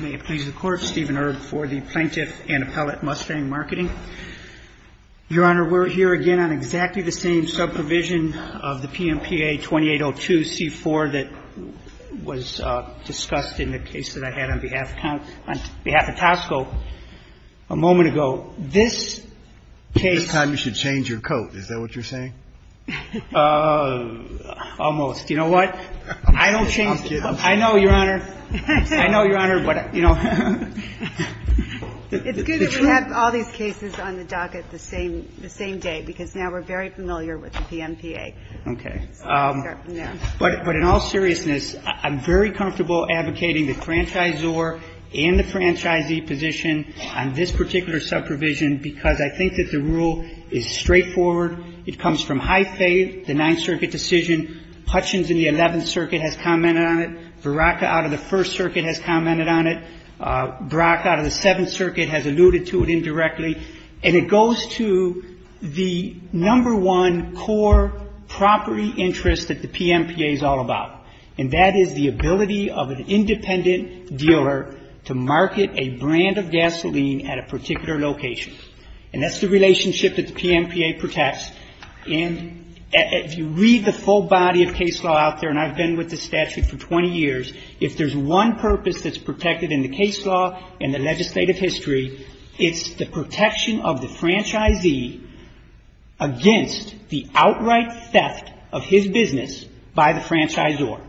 May it please the court, Steven Erb for the Plaintiff and Appellate Mustang Marketing. Your Honor, we're here again on exactly the same sub-provision of the PMPA 2802 C-4 that was discussed in the case that I had on behalf of Tosco a moment ago. This case… This time you should change your coat. Is that what you're saying? Almost. You know what? I don't change… I know, Your Honor. I know, Your Honor. It's good that we have all these cases on the docket the same day because now we're very familiar with the PMPA. Okay. But in all seriousness, I'm very comfortable advocating the franchisor and the franchisee position on this particular sub-provision because I think that the rule is straightforward. It comes from high faith, the Ninth Circuit decision. Hutchins in the Eleventh Circuit has commented on it. Baraka out of the First Circuit has commented on it. Baraka out of the Seventh Circuit has alluded to it indirectly. And it goes to the number one core property interest that the PMPA is all about, and that is the ability of an independent dealer to market a brand of gasoline at a particular location. And that's the relationship that the PMPA protects. And if you read the full body of case law out there, and I've been with the statute for 20 years, if there's one purpose that's protected in the case law and the legislative history, it's the protection of the franchisee against the outright theft of his business by the franchisor,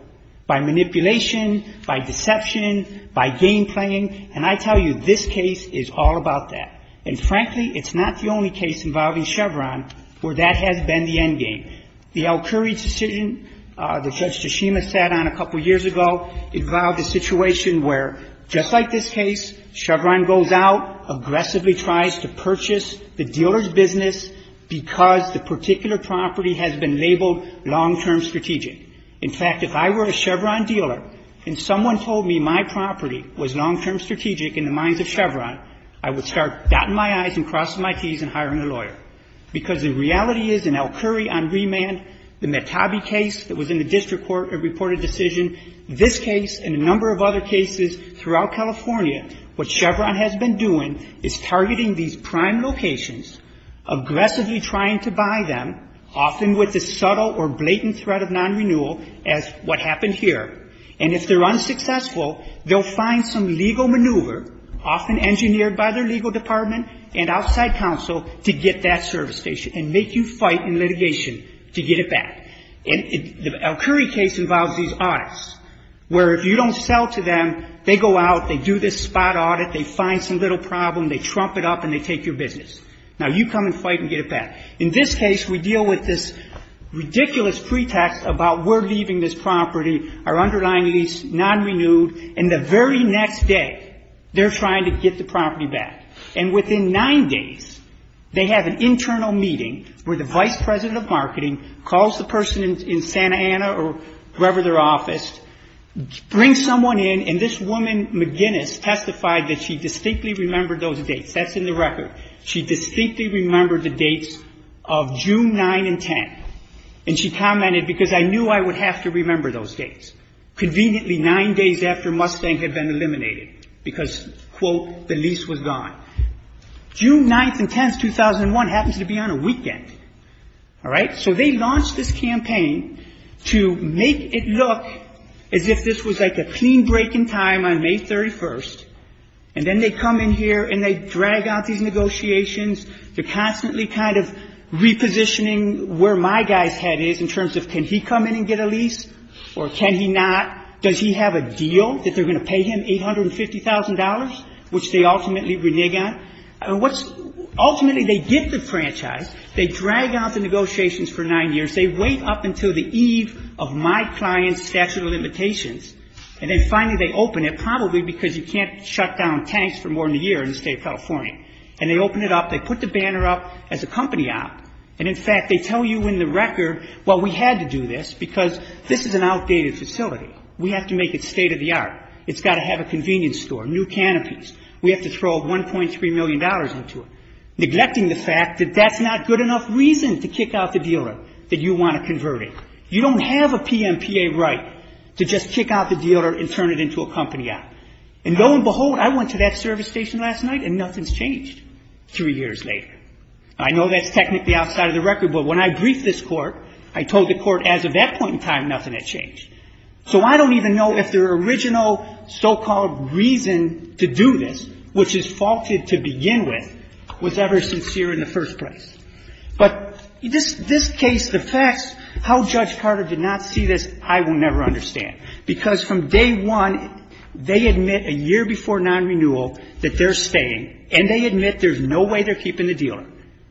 by manipulation, by deception, by game playing. And I tell you, this case is all about that. And frankly, it's not the only case involving Chevron where that has been the end game. The Al-Khuri decision that Judge Tshishima sat on a couple years ago involved a situation where, just like this case, Chevron goes out, aggressively tries to purchase the dealer's business because the particular property has been labeled long-term strategic. In fact, if I were a Chevron dealer and someone told me my property was long-term strategic in the minds of Chevron, I would start dotting my I's and crossing my T's and hiring a lawyer. Because the reality is in Al-Khuri on remand, the Metabi case that was in the district court that reported a decision, this case and a number of other cases throughout California, what Chevron has been doing is targeting these prime locations, aggressively trying to buy them, often with the subtle or blatant threat of non-renewal as what happened here. And if they're unsuccessful, they'll find some legal maneuver, often engineered by their legal department and outside counsel, to get that service station and make you fight in litigation to get it back. And the Al-Khuri case involves these audits where if you don't sell to them, they go out, they do this spot audit, they find some little problem, they trump it up, and they take your business. Now, you come and fight and get it back. In this case, we deal with this ridiculous pretext about we're leaving this property, our underlying lease non-renewed, and the very next day they're trying to get the property back. And within nine days, they have an internal meeting where the vice president of marketing calls the person in Santa Ana or wherever their office, brings someone in, and this woman, McGinnis, testified that she distinctly remembered those dates. That's in the record. She distinctly remembered the dates of June 9 and 10, and she commented, because I knew I would have to remember those dates. Conveniently, nine days after Mustang had been eliminated because, quote, the lease was gone. June 9th and 10th, 2001 happens to be on a weekend. All right? So they launched this campaign to make it look as if this was like a clean break in time on May 31st, and then they come in here and they drag out these negotiations. They're constantly kind of repositioning where my guy's head is in terms of can he come in and get a lease, or can he not? Does he have a deal that they're going to pay him $850,000, which they ultimately renege on? Ultimately, they get the franchise. They drag out the negotiations for nine years. They wait up until the eve of my client's statute of limitations, and then finally they open it, probably because you can't shut down tanks for more than a year in the State of California. And they open it up. They put the banner up as a company op, and, in fact, they tell you in the record, well, we had to do this because this is an outdated facility. We have to make it state-of-the-art. It's got to have a convenience store, new canopies. We have to throw $1.3 million into it, neglecting the fact that that's not good enough reason to kick out the dealer, that you want to convert it. You don't have a PMPA right to just kick out the dealer and turn it into a company op. And lo and behold, I went to that service station last night, and nothing's changed three years later. I know that's technically outside of the record, but when I briefed this Court, I told the Court as of that point in time, nothing had changed. So I don't even know if their original so-called reason to do this, which is faulted to begin with, was ever sincere in the first place. But this case, the facts, how Judge Carter did not see this, I will never understand. Because from day one, they admit a year before nonrenewal that they're staying, and they admit there's no way they're keeping the dealer.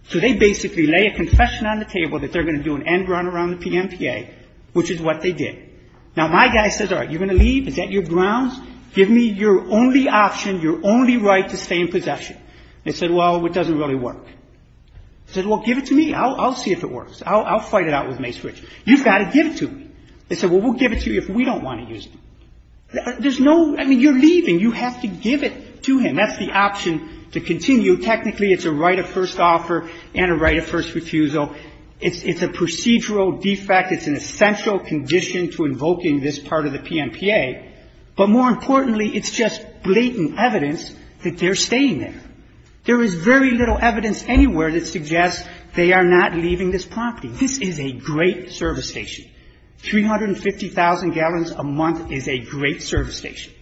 So they basically lay a confession on the table that they're going to do an end run around the PMPA, which is what they did. Now, my guy says, all right, you're going to leave? Is that your grounds? Give me your only option, your only right to stay in possession. They said, well, it doesn't really work. He said, well, give it to me. I'll see if it works. I'll fight it out with Mace Rich. You've got to give it to me. They said, well, we'll give it to you if we don't want to use it. There's no – I mean, you're leaving. You have to give it to him. That's the option to continue. Technically, it's a right of first offer and a right of first refusal. It's a procedural defect. It's an essential condition to invoking this part of the PMPA. But more importantly, it's just blatant evidence that they're staying there. There is very little evidence anywhere that suggests they are not leaving this property. This is a great service station. 350,000 gallons a month is a great service station.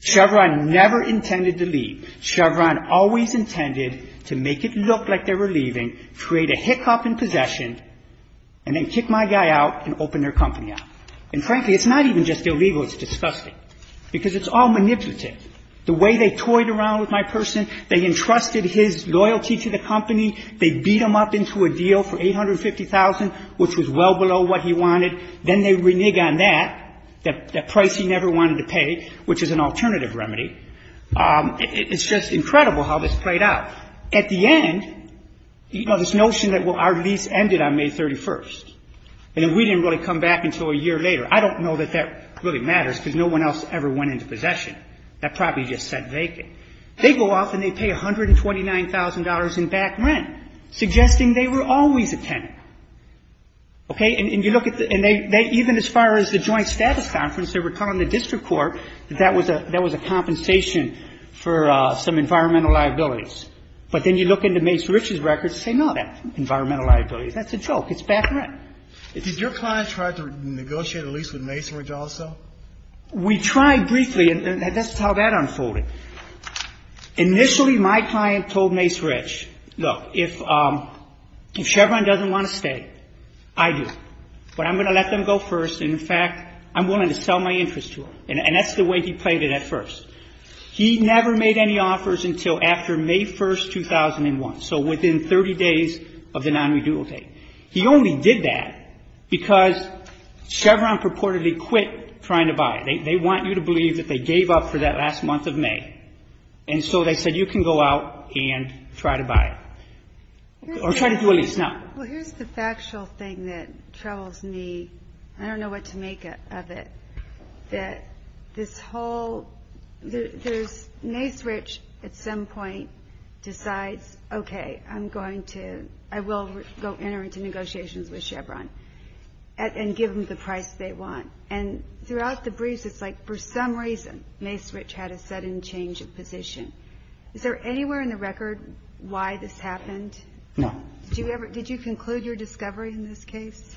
Chevron never intended to leave. Chevron always intended to make it look like they were leaving, create a hiccup in possession, and then kick my guy out and open their company up. And frankly, it's not even just illegal. It's disgusting because it's all manipulative. The way they toyed around with my person, they entrusted his loyalty to the company. They beat him up into a deal for 850,000, which was well below what he wanted. Then they renege on that, that price he never wanted to pay, which is an alternative remedy. It's just incredible how this played out. At the end, you know, this notion that, well, our lease ended on May 31st, and then we didn't really come back until a year later. I don't know that that really matters because no one else ever went into possession. That property just sat vacant. They go off and they pay $129,000 in back rent, suggesting they were always a tenant. Okay? And you look at the – and they – even as far as the joint status conference, they were telling the district court that that was a – that was a compensation for some environmental liabilities. But then you look into Mace Rich's records and say, no, that's environmental liabilities. That's a joke. It's back rent. Did your client try to negotiate a lease with Mace Rich also? We tried briefly, and that's how that unfolded. Initially, my client told Mace Rich, look, if Chevron doesn't want to stay, I do. But I'm going to let them go first, and, in fact, I'm willing to sell my interest to them. And that's the way he played it at first. He never made any offers until after May 1st, 2001, so within 30 days of the non-redual date. He only did that because Chevron purportedly quit trying to buy. They want you to believe that they gave up for that last month of May. And so they said, you can go out and try to buy it. Or try to do a lease now. Well, here's the factual thing that troubles me. I don't know what to make of it. That this whole – there's – Mace Rich at some point decides, okay, I'm going to – I will go enter into negotiations with Chevron and give them the price they want. And throughout the briefs, it's like, for some reason, Mace Rich had a sudden change of position. Is there anywhere in the record why this happened? No. Did you ever – did you conclude your discovery in this case?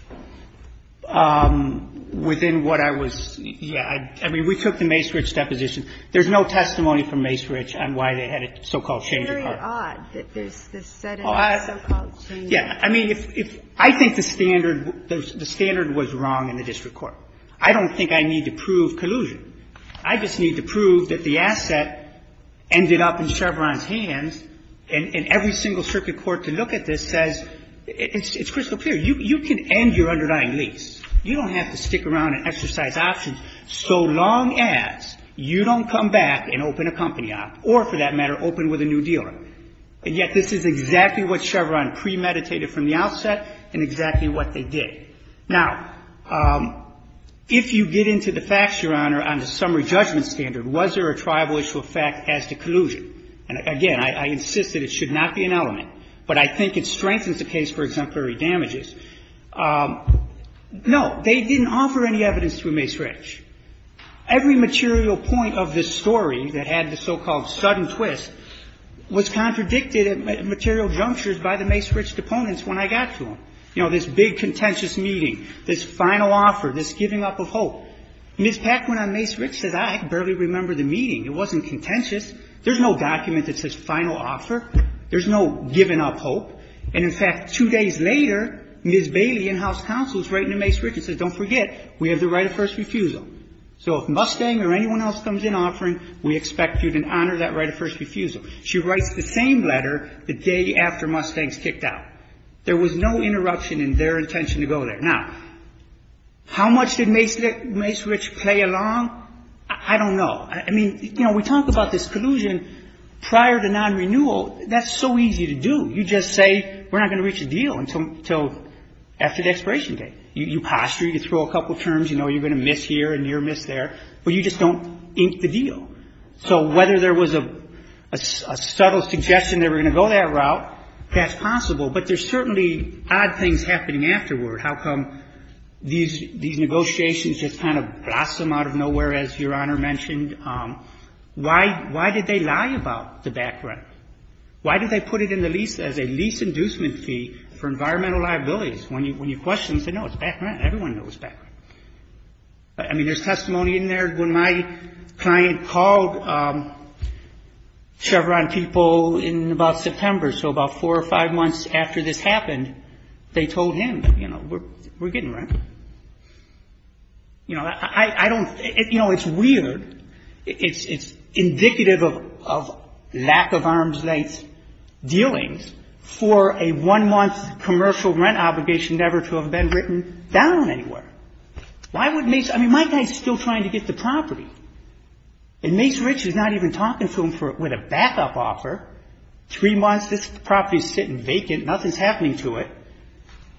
Within what I was – yeah. I mean, we took the Mace Rich deposition. There's no testimony from Mace Rich on why they had a so-called change of partner. It's odd that there's this sudden so-called change. Yeah. I mean, if – I think the standard – the standard was wrong in the district court. I don't think I need to prove collusion. I just need to prove that the asset ended up in Chevron's hands. And every single circuit court to look at this says – it's crystal clear. You can end your underlying lease. You don't have to stick around and exercise options so long as you don't come back and open a company up or, for that matter, open with a new dealer. And yet this is exactly what Chevron premeditated from the outset and exactly what they did. Now, if you get into the facts, Your Honor, on the summary judgment standard, was there a tribal issue of fact as to collusion? And, again, I insist that it should not be an element, but I think it strengthens the case for exemplary damages. No. They didn't offer any evidence through Mace Rich. Every material point of this story that had the so-called sudden twist was contradicted at material junctures by the Mace Rich deponents when I got to them. You know, this big contentious meeting, this final offer, this giving up of hope. Ms. Paquin on Mace Rich says, I barely remember the meeting. It wasn't contentious. There's no document that says final offer. There's no giving up hope. And, in fact, two days later, Ms. Bailey in House Counsel is writing to Mace Rich and says, don't forget, we have the right of first refusal. So if Mustang or anyone else comes in offering, we expect you to honor that right of first refusal. She writes the same letter the day after Mustangs kicked out. There was no interruption in their intention to go there. Now, how much did Mace Rich play along? I don't know. I mean, you know, we talk about this collusion prior to non-renewal. That's so easy to do. You just say, we're not going to reach a deal until after the expiration date. You posture. You throw a couple terms. You know you're going to miss here and you're going to miss there. But you just don't ink the deal. So whether there was a subtle suggestion they were going to go that route, that's possible. But there's certainly odd things happening afterward. How come these negotiations just kind of blossom out of nowhere, as Your Honor mentioned? Why did they lie about the back rent? Why did they put it in the lease as a lease inducement fee for environmental liabilities? When you question, you say, no, it's back rent. Everyone knows it's back rent. I mean, there's testimony in there. When my client called Chevron people in about September, so about four or five months after this happened, they told him, you know, we're getting rent. You know, I don't – you know, it's weird. It's indicative of lack of arm's length dealings for a one-month commercial rent obligation never to have been written down anywhere. Why would Mace – I mean, my guy is still trying to get the property. And Mace Rich is not even talking to him for – with a backup offer. Three months, this property is sitting vacant. Nothing is happening to it.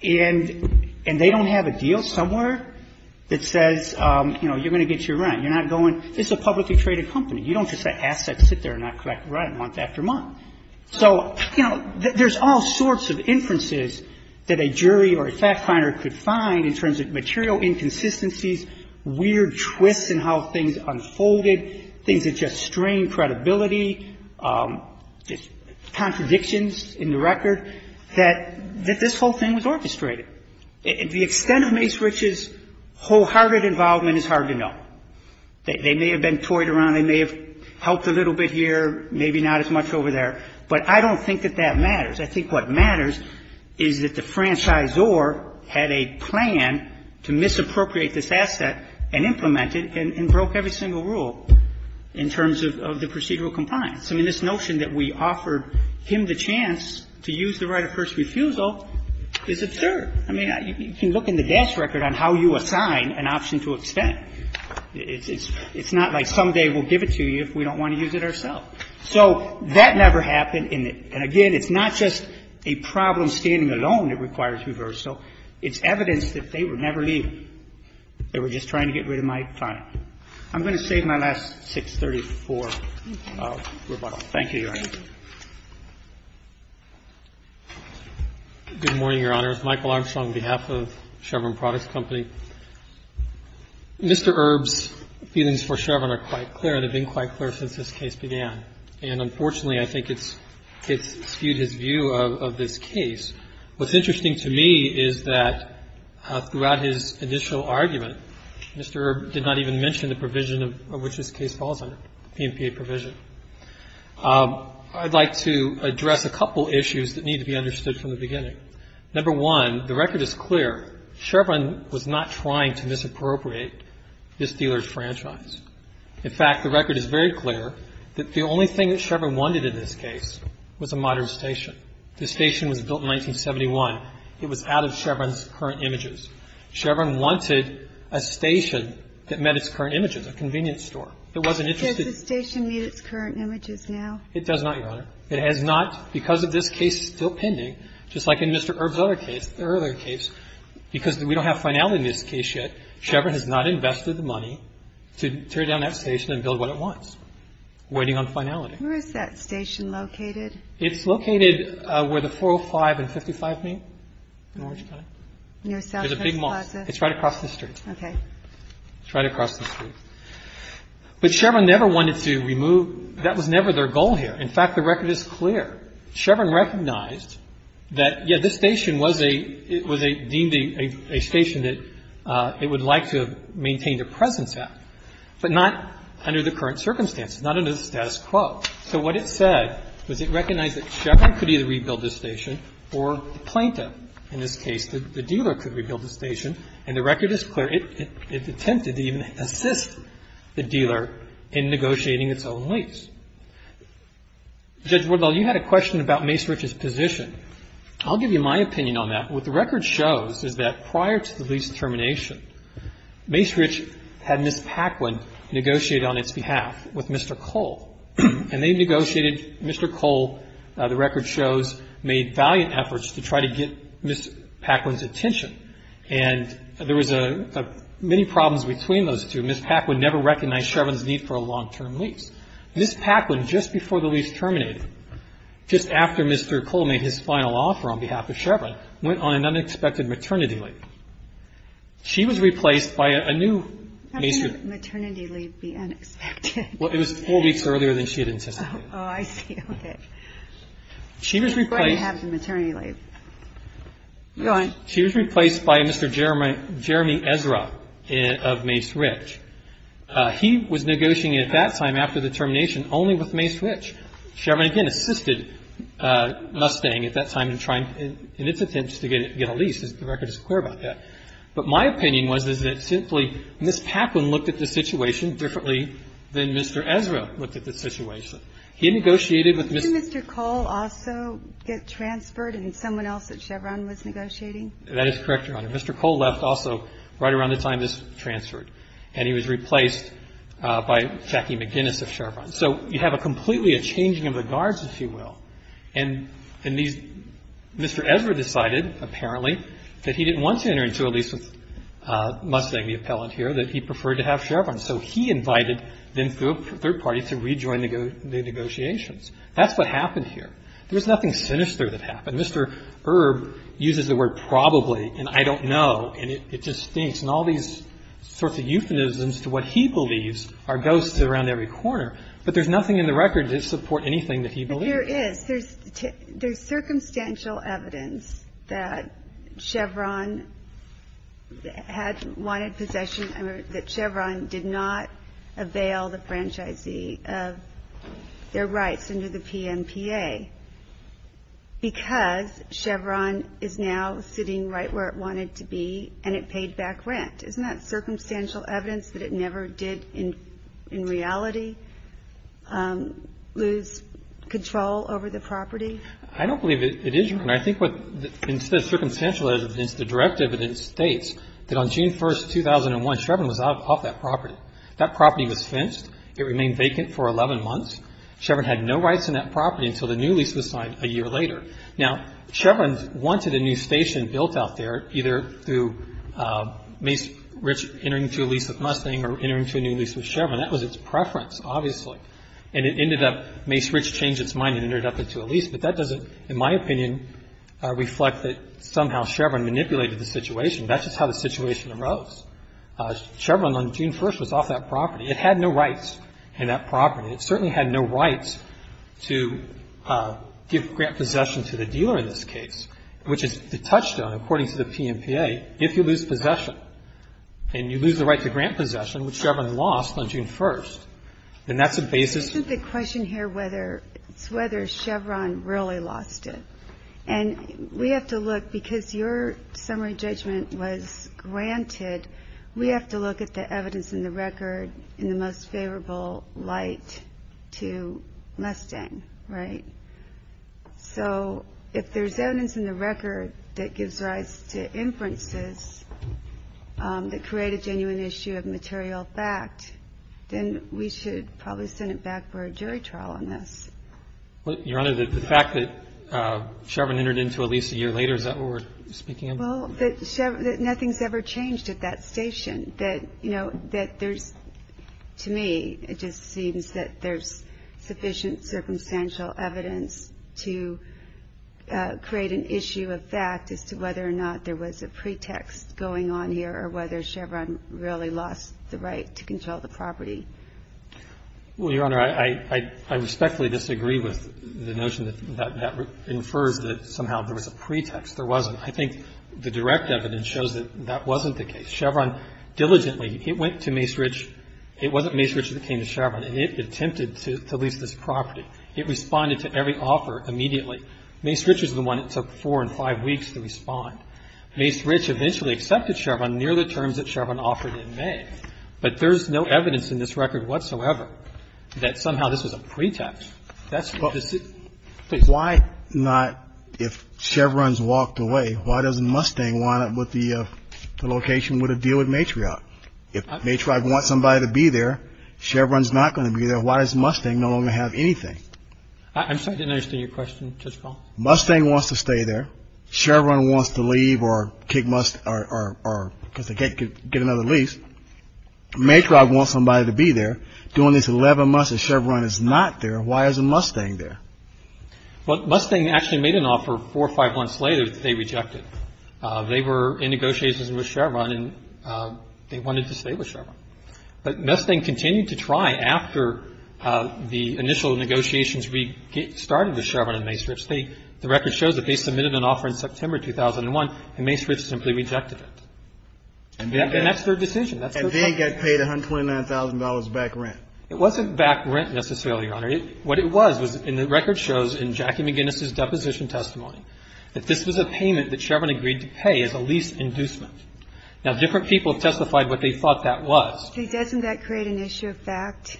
And they don't have a deal somewhere that says, you know, you're going to get your rent. You're not going – it's a publicly traded company. You don't just have assets sit there and not collect rent month after month. So, you know, there's all sorts of inferences that a jury or a fact finder could find in terms of material inconsistencies, weird twists in how things unfolded, things that just strain credibility, just contradictions in the record, that this whole thing was orchestrated. The extent of Mace Rich's wholehearted involvement is hard to know. They may have been toyed around. They may have helped a little bit here, maybe not as much over there. But I don't think that that matters. I think what matters is that the franchisor had a plan to misappropriate this asset and implement it and broke every single rule in terms of the procedural compliance. I mean, this notion that we offered him the chance to use the right of first refusal is absurd. I mean, you can look in the desk record on how you assign an option to extent. It's not like someday we'll give it to you if we don't want to use it ourself. So that never happened. And, again, it's not just a problem standing alone that requires reversal. It's evidence that they were never leaving. They were just trying to get rid of my client. I'm going to save my last 634. Thank you, Your Honor. Good morning, Your Honors. Michael Armstrong on behalf of Chevron Products Company. Mr. Erb's feelings for Chevron are quite clear and have been quite clear since this case began. And, unfortunately, I think it's skewed his view of this case. What's interesting to me is that throughout his initial argument, Mr. Erb did not even mention the provision of which this case falls under, the PMPA provision. I'd like to address a couple issues that need to be understood from the beginning. Number one, the record is clear. Chevron was not trying to misappropriate this dealer's franchise. In fact, the record is very clear that the only thing that Chevron wanted in this case was a modern station. The station was built in 1971. It was out of Chevron's current images. Chevron wanted a station that met its current images, a convenience store. It wasn't interested in the other. Does the station meet its current images now? It does not, Your Honor. It has not. Because of this case still pending, just like in Mr. Erb's other case, the earlier case, because we don't have finality in this case yet, Chevron has not invested the money to tear down that station and build what it wants, waiting on finality. Where is that station located? It's located where the 405 and 55 meet in Orange County. Near Southwest Plaza. It's a big mall. It's right across the street. Okay. It's right across the street. But Chevron never wanted to remove – that was never their goal here. In fact, the record is clear. Chevron recognized that, yes, this station was a – it was deemed a station that it would like to maintain the presence at, but not under the current circumstances, not under the status quo. So what it said was it recognized that Chevron could either rebuild this station or the plaintiff. In this case, the dealer could rebuild the station. And the record is clear. It attempted to even assist the dealer in negotiating its own lease. Judge Woodall, you had a question about Mace Rich's position. I'll give you my opinion on that. What the record shows is that prior to the lease termination, Mace Rich had Ms. Paquin negotiate on its behalf with Mr. Cole. And they negotiated – Mr. Cole, the record shows, made valiant efforts to try to get Ms. Paquin's attention. And there was many problems between those two. Ms. Paquin never recognized Chevron's need for a long-term lease. Ms. Paquin, just before the lease terminated, just after Mr. Cole made his final offer on behalf of Chevron, went on an unexpected maternity leave. She was replaced by a new Mace Rich. How can a maternity leave be unexpected? Well, it was four weeks earlier than she had anticipated. Oh, I see. Okay. She was replaced. I'm glad you have the maternity leave. Go on. She was replaced by Mr. Jeremy Ezra of Mace Rich. He was negotiating at that time after the termination only with Mace Rich. Chevron, again, assisted Mustang at that time in trying, in its attempts to get a lease. The record is clear about that. But my opinion was that simply Ms. Paquin looked at the situation differently than Mr. Ezra looked at the situation. He negotiated with Ms. ---- Didn't Mr. Cole also get transferred and someone else at Chevron was negotiating? That is correct, Your Honor. Mr. Cole left also right around the time this transferred. And he was replaced by Jackie McGinnis of Chevron. So you have a completely a changing of the guards, if you will. And Mr. Ezra decided, apparently, that he didn't want to enter into a lease with Mustang, the appellant here, that he preferred to have Chevron. So he invited them through a third party to rejoin the negotiations. That's what happened here. There was nothing sinister that happened. Mr. Erb uses the word probably and I don't know, and it just stinks, and all these sorts of euphemisms to what he believes are ghosts around every corner. But there's nothing in the record to support anything that he believes. Your Honor, there is. There's circumstantial evidence that Chevron had wanted possession, that Chevron did not avail the franchisee of their rights under the PNPA because Chevron is now sitting right where it wanted to be and it paid back rent. Isn't that circumstantial evidence that it never did, in reality, lose control over the property? I don't believe it is, Your Honor. I think what is circumstantial is the direct evidence states that on June 1, 2001, Chevron was off that property. That property was fenced. It remained vacant for 11 months. Chevron had no rights in that property until the new lease was signed a year later. Now, Chevron wanted a new station built out there either through Mace Rich entering through a lease with Mustang or entering through a new lease with Chevron. That was its preference, obviously. And it ended up Mace Rich changed its mind and entered up into a lease. But that doesn't, in my opinion, reflect that somehow Chevron manipulated the situation. That's just how the situation arose. Chevron on June 1 was off that property. It had no rights in that property. It certainly had no rights to give grant possession to the dealer in this case, which is the touchstone, according to the PNPA, if you lose possession and you lose the right to grant possession, which Chevron lost on June 1. And that's the basis. Isn't the question here whether it's whether Chevron really lost it? And we have to look, because your summary judgment was granted, we have to look at the evidence in the record in the most favorable light to Mustang, right? So if there's evidence in the record that gives rise to inferences that create a genuine issue of material fact, then we should probably send it back for a jury trial on this. Your Honor, the fact that Chevron entered into a lease a year later, is that what we're speaking of? Well, that Chevron, that nothing's ever changed at that station. That, you know, that there's, to me, it just seems that there's sufficient circumstantial evidence to create an issue of fact as to whether or not there was a pretext going on here or whether Chevron really lost the right to control the property. Well, Your Honor, I respectfully disagree with the notion that that infers that somehow there was a pretext. There wasn't. I think the direct evidence shows that that wasn't the case. Chevron diligently, it went to Mace Rich. It wasn't Mace Rich that came to Chevron, and it attempted to lease this property. It responded to every offer immediately. Mace Rich was the one that took four and five weeks to respond. Mace Rich eventually accepted Chevron near the terms that Chevron offered in May. But there's no evidence in this record whatsoever that somehow this was a pretext. But why not, if Chevron's walked away, why doesn't Mustang wind up with the location with a deal with Matriarch? If Matriarch wants somebody to be there, Chevron's not going to be there. Why does Mustang no longer have anything? I'm sorry. I didn't understand your question, Judge Paul. Mustang wants to stay there. Chevron wants to leave or kick Must or because they can't get another lease. Matriarch wants somebody to be there. Doing this 11 months if Chevron is not there, why isn't Mustang there? Well, Mustang actually made an offer four or five months later that they rejected. They were in negotiations with Chevron, and they wanted to stay with Chevron. But Mustang continued to try after the initial negotiations restarted with Chevron and Mace Rich. The record shows that they submitted an offer in September 2001, and Mace Rich simply rejected it. And that's their decision. And then got paid $129,000 back rent. It wasn't back rent necessarily, Your Honor. What it was was, and the record shows in Jackie McGinnis' deposition testimony, that this was a payment that Chevron agreed to pay as a lease inducement. Now, different people testified what they thought that was. Doesn't that create an issue of fact?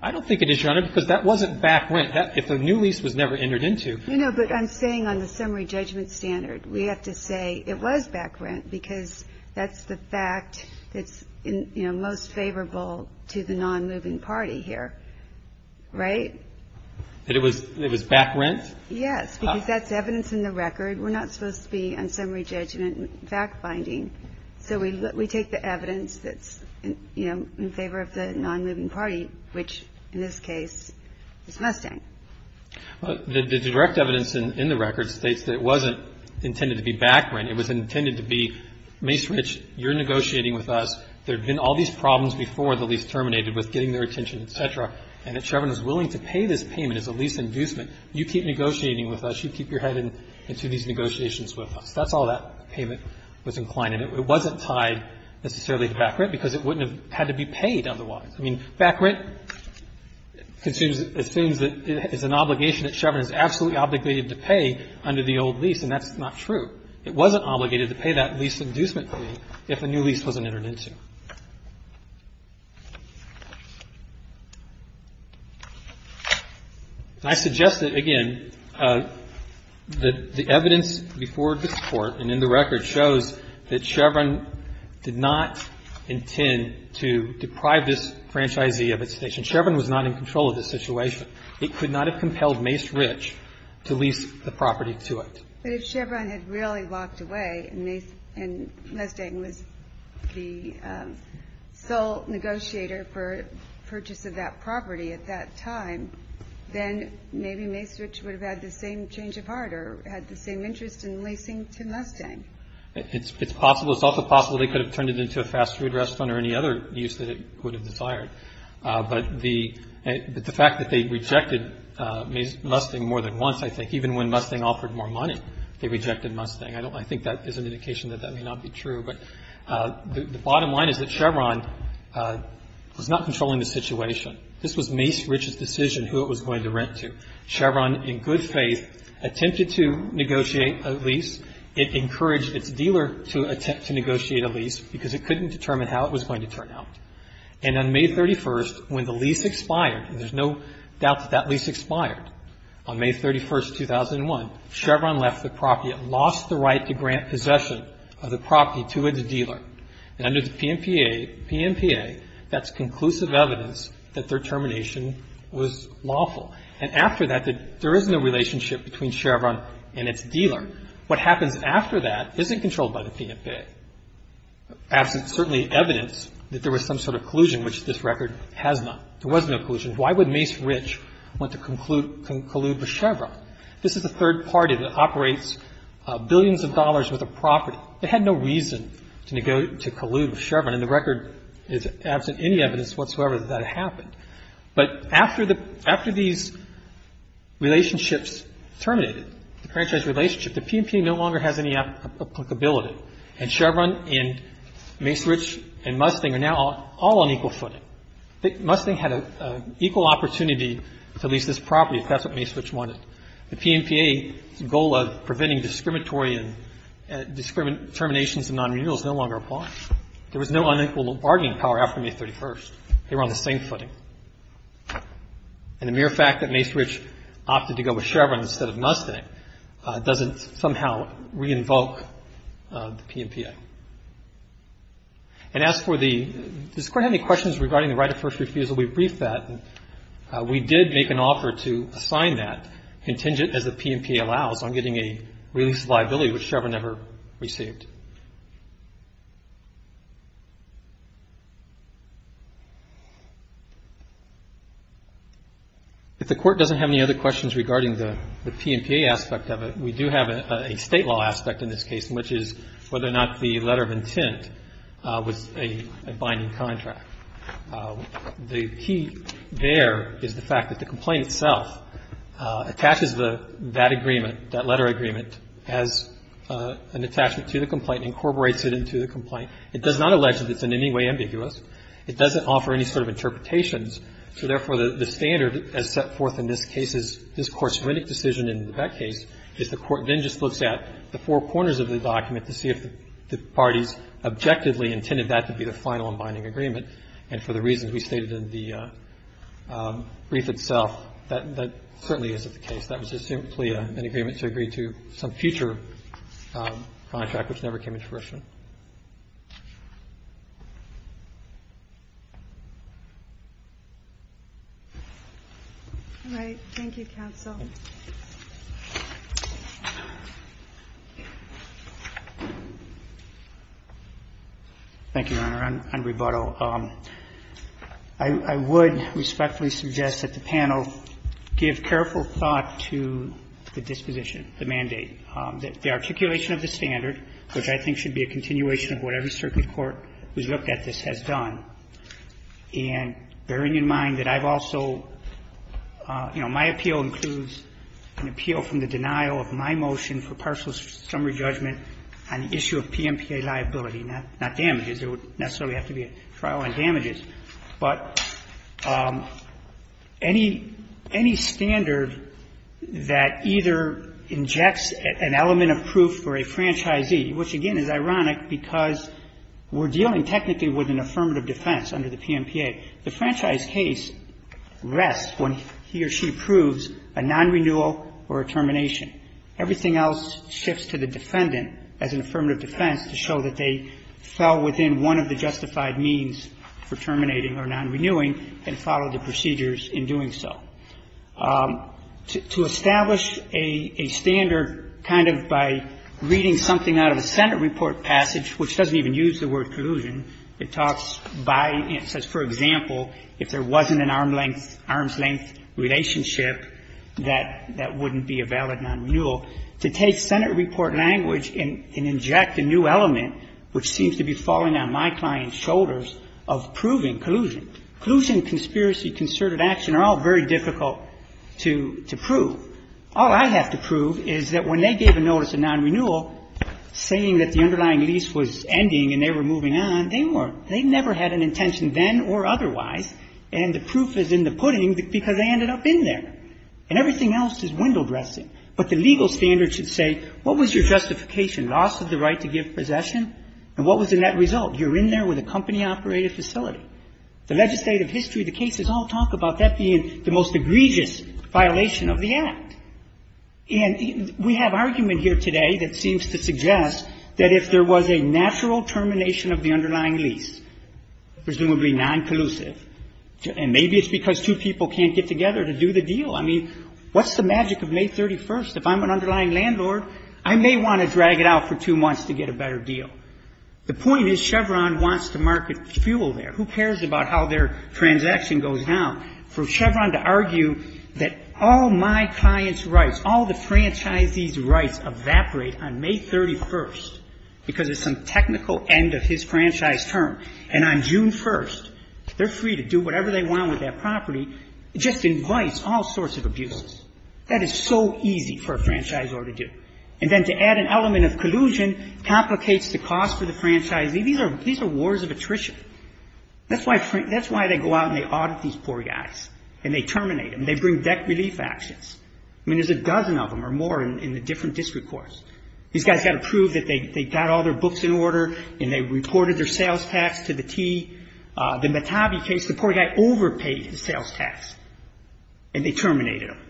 I don't think it is, Your Honor, because that wasn't back rent. If a new lease was never entered into. No, but I'm saying on the summary judgment standard we have to say it was back rent because that's the fact that's most favorable to the non-moving party here. Right? That it was back rent? Yes, because that's evidence in the record. We're not supposed to be on summary judgment fact-finding. So we take the evidence that's in favor of the non-moving party, which in this case is Mustang. The direct evidence in the record states that it wasn't intended to be back rent. It was intended to be, Mace Rich, you're negotiating with us. There have been all these problems before the lease terminated with getting their attention, et cetera, and that Chevron is willing to pay this payment as a lease inducement. You keep negotiating with us. You keep your head into these negotiations with us. That's all that payment was inclined to. It wasn't tied necessarily to back rent because it wouldn't have had to be paid otherwise. I mean, back rent assumes that it's an obligation that Chevron is absolutely obligated to pay under the old lease, and that's not true. It wasn't obligated to pay that lease inducement fee if a new lease wasn't entered into. I suggest that, again, the evidence before this Court and in the record shows that Chevron did not intend to deprive this franchisee of its station. Chevron was not in control of this situation. It could not have compelled Mace Rich to lease the property to it. But if Chevron had really walked away and Mustang was the sole negotiator for purchase of that property at that time, then maybe Mace Rich would have had the same change of heart or had the same interest in leasing to Mustang. It's possible. It's also possible they could have turned it into a fast food restaurant or any other use that it would have desired. But the fact that they rejected Mustang more than once, I think, even when Mustang offered more money, they rejected Mustang. I think that is an indication that that may not be true. But the bottom line is that Chevron was not controlling the situation. This was Mace Rich's decision who it was going to rent to. Chevron, in good faith, attempted to negotiate a lease. It encouraged its dealer to attempt to negotiate a lease because it couldn't determine how it was going to turn out. And on May 31st, when the lease expired, and there's no doubt that that lease expired, on May 31st, 2001, Chevron left the property. It lost the right to grant possession of the property to its dealer. And under the PNPA, that's conclusive evidence that their termination was lawful. And after that, there is no relationship between Chevron and its dealer. What happens after that isn't controlled by the PNPA. Absent, certainly, evidence that there was some sort of collusion, which this record has not. There was no collusion. Why would Mace Rich want to collude with Chevron? This is a third party that operates billions of dollars worth of property. They had no reason to collude with Chevron, and the record is absent any evidence whatsoever that that happened. But after these relationships terminated, the franchise relationship, the PNPA no longer has any applicability. And Chevron and Mace Rich and Mustang are now all on equal footing. Mustang had an equal opportunity to lease this property if that's what Mace Rich wanted. The PNPA's goal of preventing discriminatory terminations and nonrenewals no longer applies. There was no unequal bargaining power after May 31st. They were on the same footing. And the mere fact that Mace Rich opted to go with Chevron instead of Mustang doesn't somehow re-invoke the PNPA. And as for the – does the Court have any questions regarding the right of first refusal? We briefed that. We did make an offer to assign that contingent, as the PNPA allows, on getting a release of liability which Chevron never received. If the Court doesn't have any other questions regarding the PNPA aspect of it, we do have a State law aspect in this case, which is whether or not the letter of intent was a binding contract. The key there is the fact that the complaint itself attaches that agreement, that letter agreement, as an attachment to the complaint, incorporates it into the complaint. It does not allege that it's in any way ambiguous. It doesn't offer any sort of interpretations. So, therefore, the standard as set forth in this case is this Court's decision in that case is the Court then just looks at the four corners of the document to see if the parties objectively intended that to be the final binding agreement. And for the reasons we stated in the brief itself, that certainly isn't the case. That was just simply an agreement to agree to some future contract which never came into fruition. All right. Thank you, counsel. Thank you, Your Honor. I would respectfully suggest that the panel give careful thought to the disposition, the mandate. The articulation of the standard, which I think should be a continuation of what every circuit court who's looked at this has done, and bearing in mind that I've also, you know, my appeal includes an appeal from the denial of my motion for partial summary judgment on the issue of PMPA liability, not damages. There would necessarily have to be a trial on damages. But any standard that either injects an element of proof for a franchisee, which, again, is ironic because we're dealing technically with an affirmative defense under the PMPA, the franchise case rests when he or she proves a nonrenewal or a termination. Everything else shifts to the defendant as an affirmative defense to show that they fell within one of the justified means for terminating or nonrenewing and followed the procedures in doing so. To establish a standard kind of by reading something out of a Senate report passage, which doesn't even use the word collusion. It talks by and says, for example, if there wasn't an arm's length relationship, that wouldn't be a valid nonrenewal. To take Senate report language and inject a new element, which seems to be falling on my client's shoulders, of proving collusion. Collusion, conspiracy, concerted action are all very difficult to prove. All I have to prove is that when they gave a notice of nonrenewal saying that the underlying lease was ending and they were moving on, they weren't. They never had an intention then or otherwise, and the proof is in the pudding because they ended up in there. And everything else is window dressing. But the legal standard should say, what was your justification? Loss of the right to give possession? And what was the net result? You're in there with a company-operated facility. The legislative history of the cases all talk about that being the most egregious violation of the Act. And we have argument here today that seems to suggest that if there was a natural termination of the underlying lease, presumably noncollusive, and maybe it's because two people can't get together to do the deal. I mean, what's the magic of May 31st? If I'm an underlying landlord, I may want to drag it out for two months to get a better deal. The point is Chevron wants to market fuel there. Who cares about how their transaction goes down? For Chevron to argue that all my client's rights, all the franchisee's rights evaporate on May 31st because of some technical end of his franchise term, and on June 1st, they're free to do whatever they want with that property, just invites all sorts of abuses. That is so easy for a franchisor to do. And then to add an element of collusion complicates the cost for the franchisee. These are wars of attrition. That's why they go out and they audit these poor guys and they terminate them. They bring debt relief actions. I mean, there's a dozen of them or more in the different district courts. These guys got to prove that they got all their books in order and they reported their sales tax to the T. The Metabi case, the poor guy overpaid his sales tax and they terminated him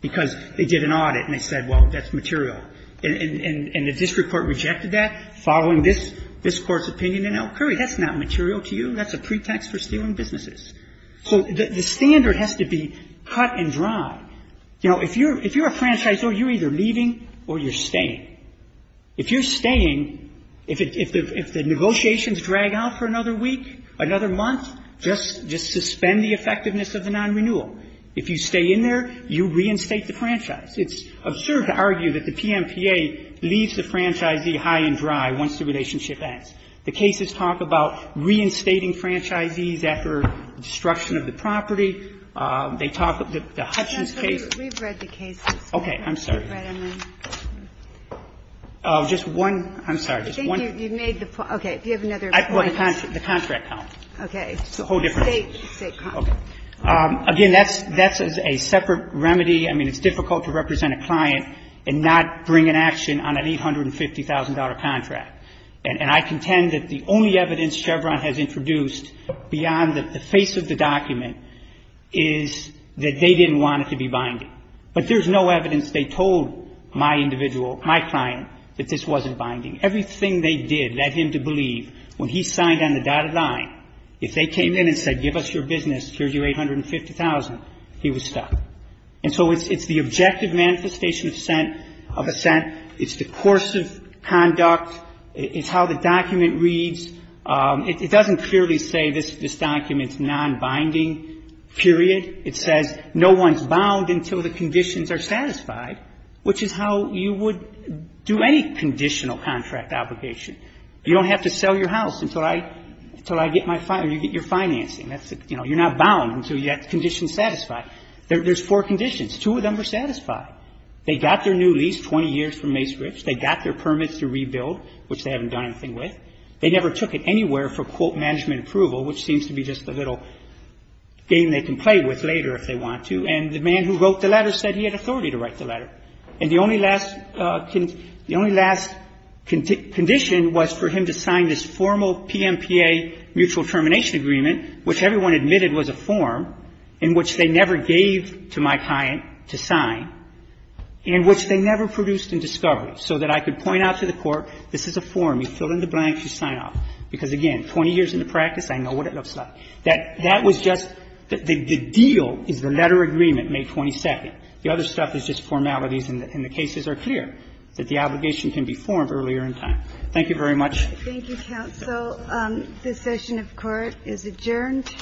because they did an audit and they said, well, that's material. And the district court rejected that following this court's opinion in Elkhury. That's not material to you. That's a pretext for stealing businesses. So the standard has to be cut and dry. You know, if you're a franchisor, you're either leaving or you're staying. If you're staying, if the negotiations drag out for another week, another month, just suspend the effectiveness of the nonrenewal. If you stay in there, you reinstate the franchise. It's absurd to argue that the PMPA leaves the franchisee high and dry once the relationship ends. The cases talk about reinstating franchisees after destruction of the property. They talk about the Hutchins case. We've read the cases. Okay. I'm sorry. Just one. I'm sorry. You've made the point. Okay. Do you have another point? The contract count. Okay. It's the whole difference. Okay. Again, that's a separate remedy. I mean, it's difficult to represent a client and not bring an action on an $850,000 contract. And I contend that the only evidence Chevron has introduced beyond the face of the But there's no evidence they told my individual, my client, that this wasn't binding. Everything they did led him to believe when he signed on the dotted line, if they came in and said give us your business, here's your $850,000, he was stuck. And so it's the objective manifestation of assent. It's the course of conduct. It's how the document reads. It doesn't clearly say this document's nonbinding, period. It says no one's bound until the conditions are satisfied, which is how you would do any conditional contract obligation. You don't have to sell your house until I get my fine or you get your financing. You're not bound until you get conditions satisfied. There's four conditions. Two of them are satisfied. They got their new lease 20 years from Mace Rich. They got their permits to rebuild, which they haven't done anything with. They never took it anywhere for, quote, management approval, which seems to be just a little game they can play with later if they want to. And the man who wrote the letter said he had authority to write the letter. And the only last condition was for him to sign this formal PMPA mutual termination agreement, which everyone admitted was a form in which they never gave to my client to sign, and which they never produced in discovery, so that I could point out to the court, this is a form. You fill in the blanks. You sign off. Because, again, 20 years into practice, I know what it looks like. That was just the deal is the letter agreement, May 22nd. The other stuff is just formalities, and the cases are clear that the obligation can be formed earlier in time. Thank you very much. Thank you, counsel. This session of court is adjourned.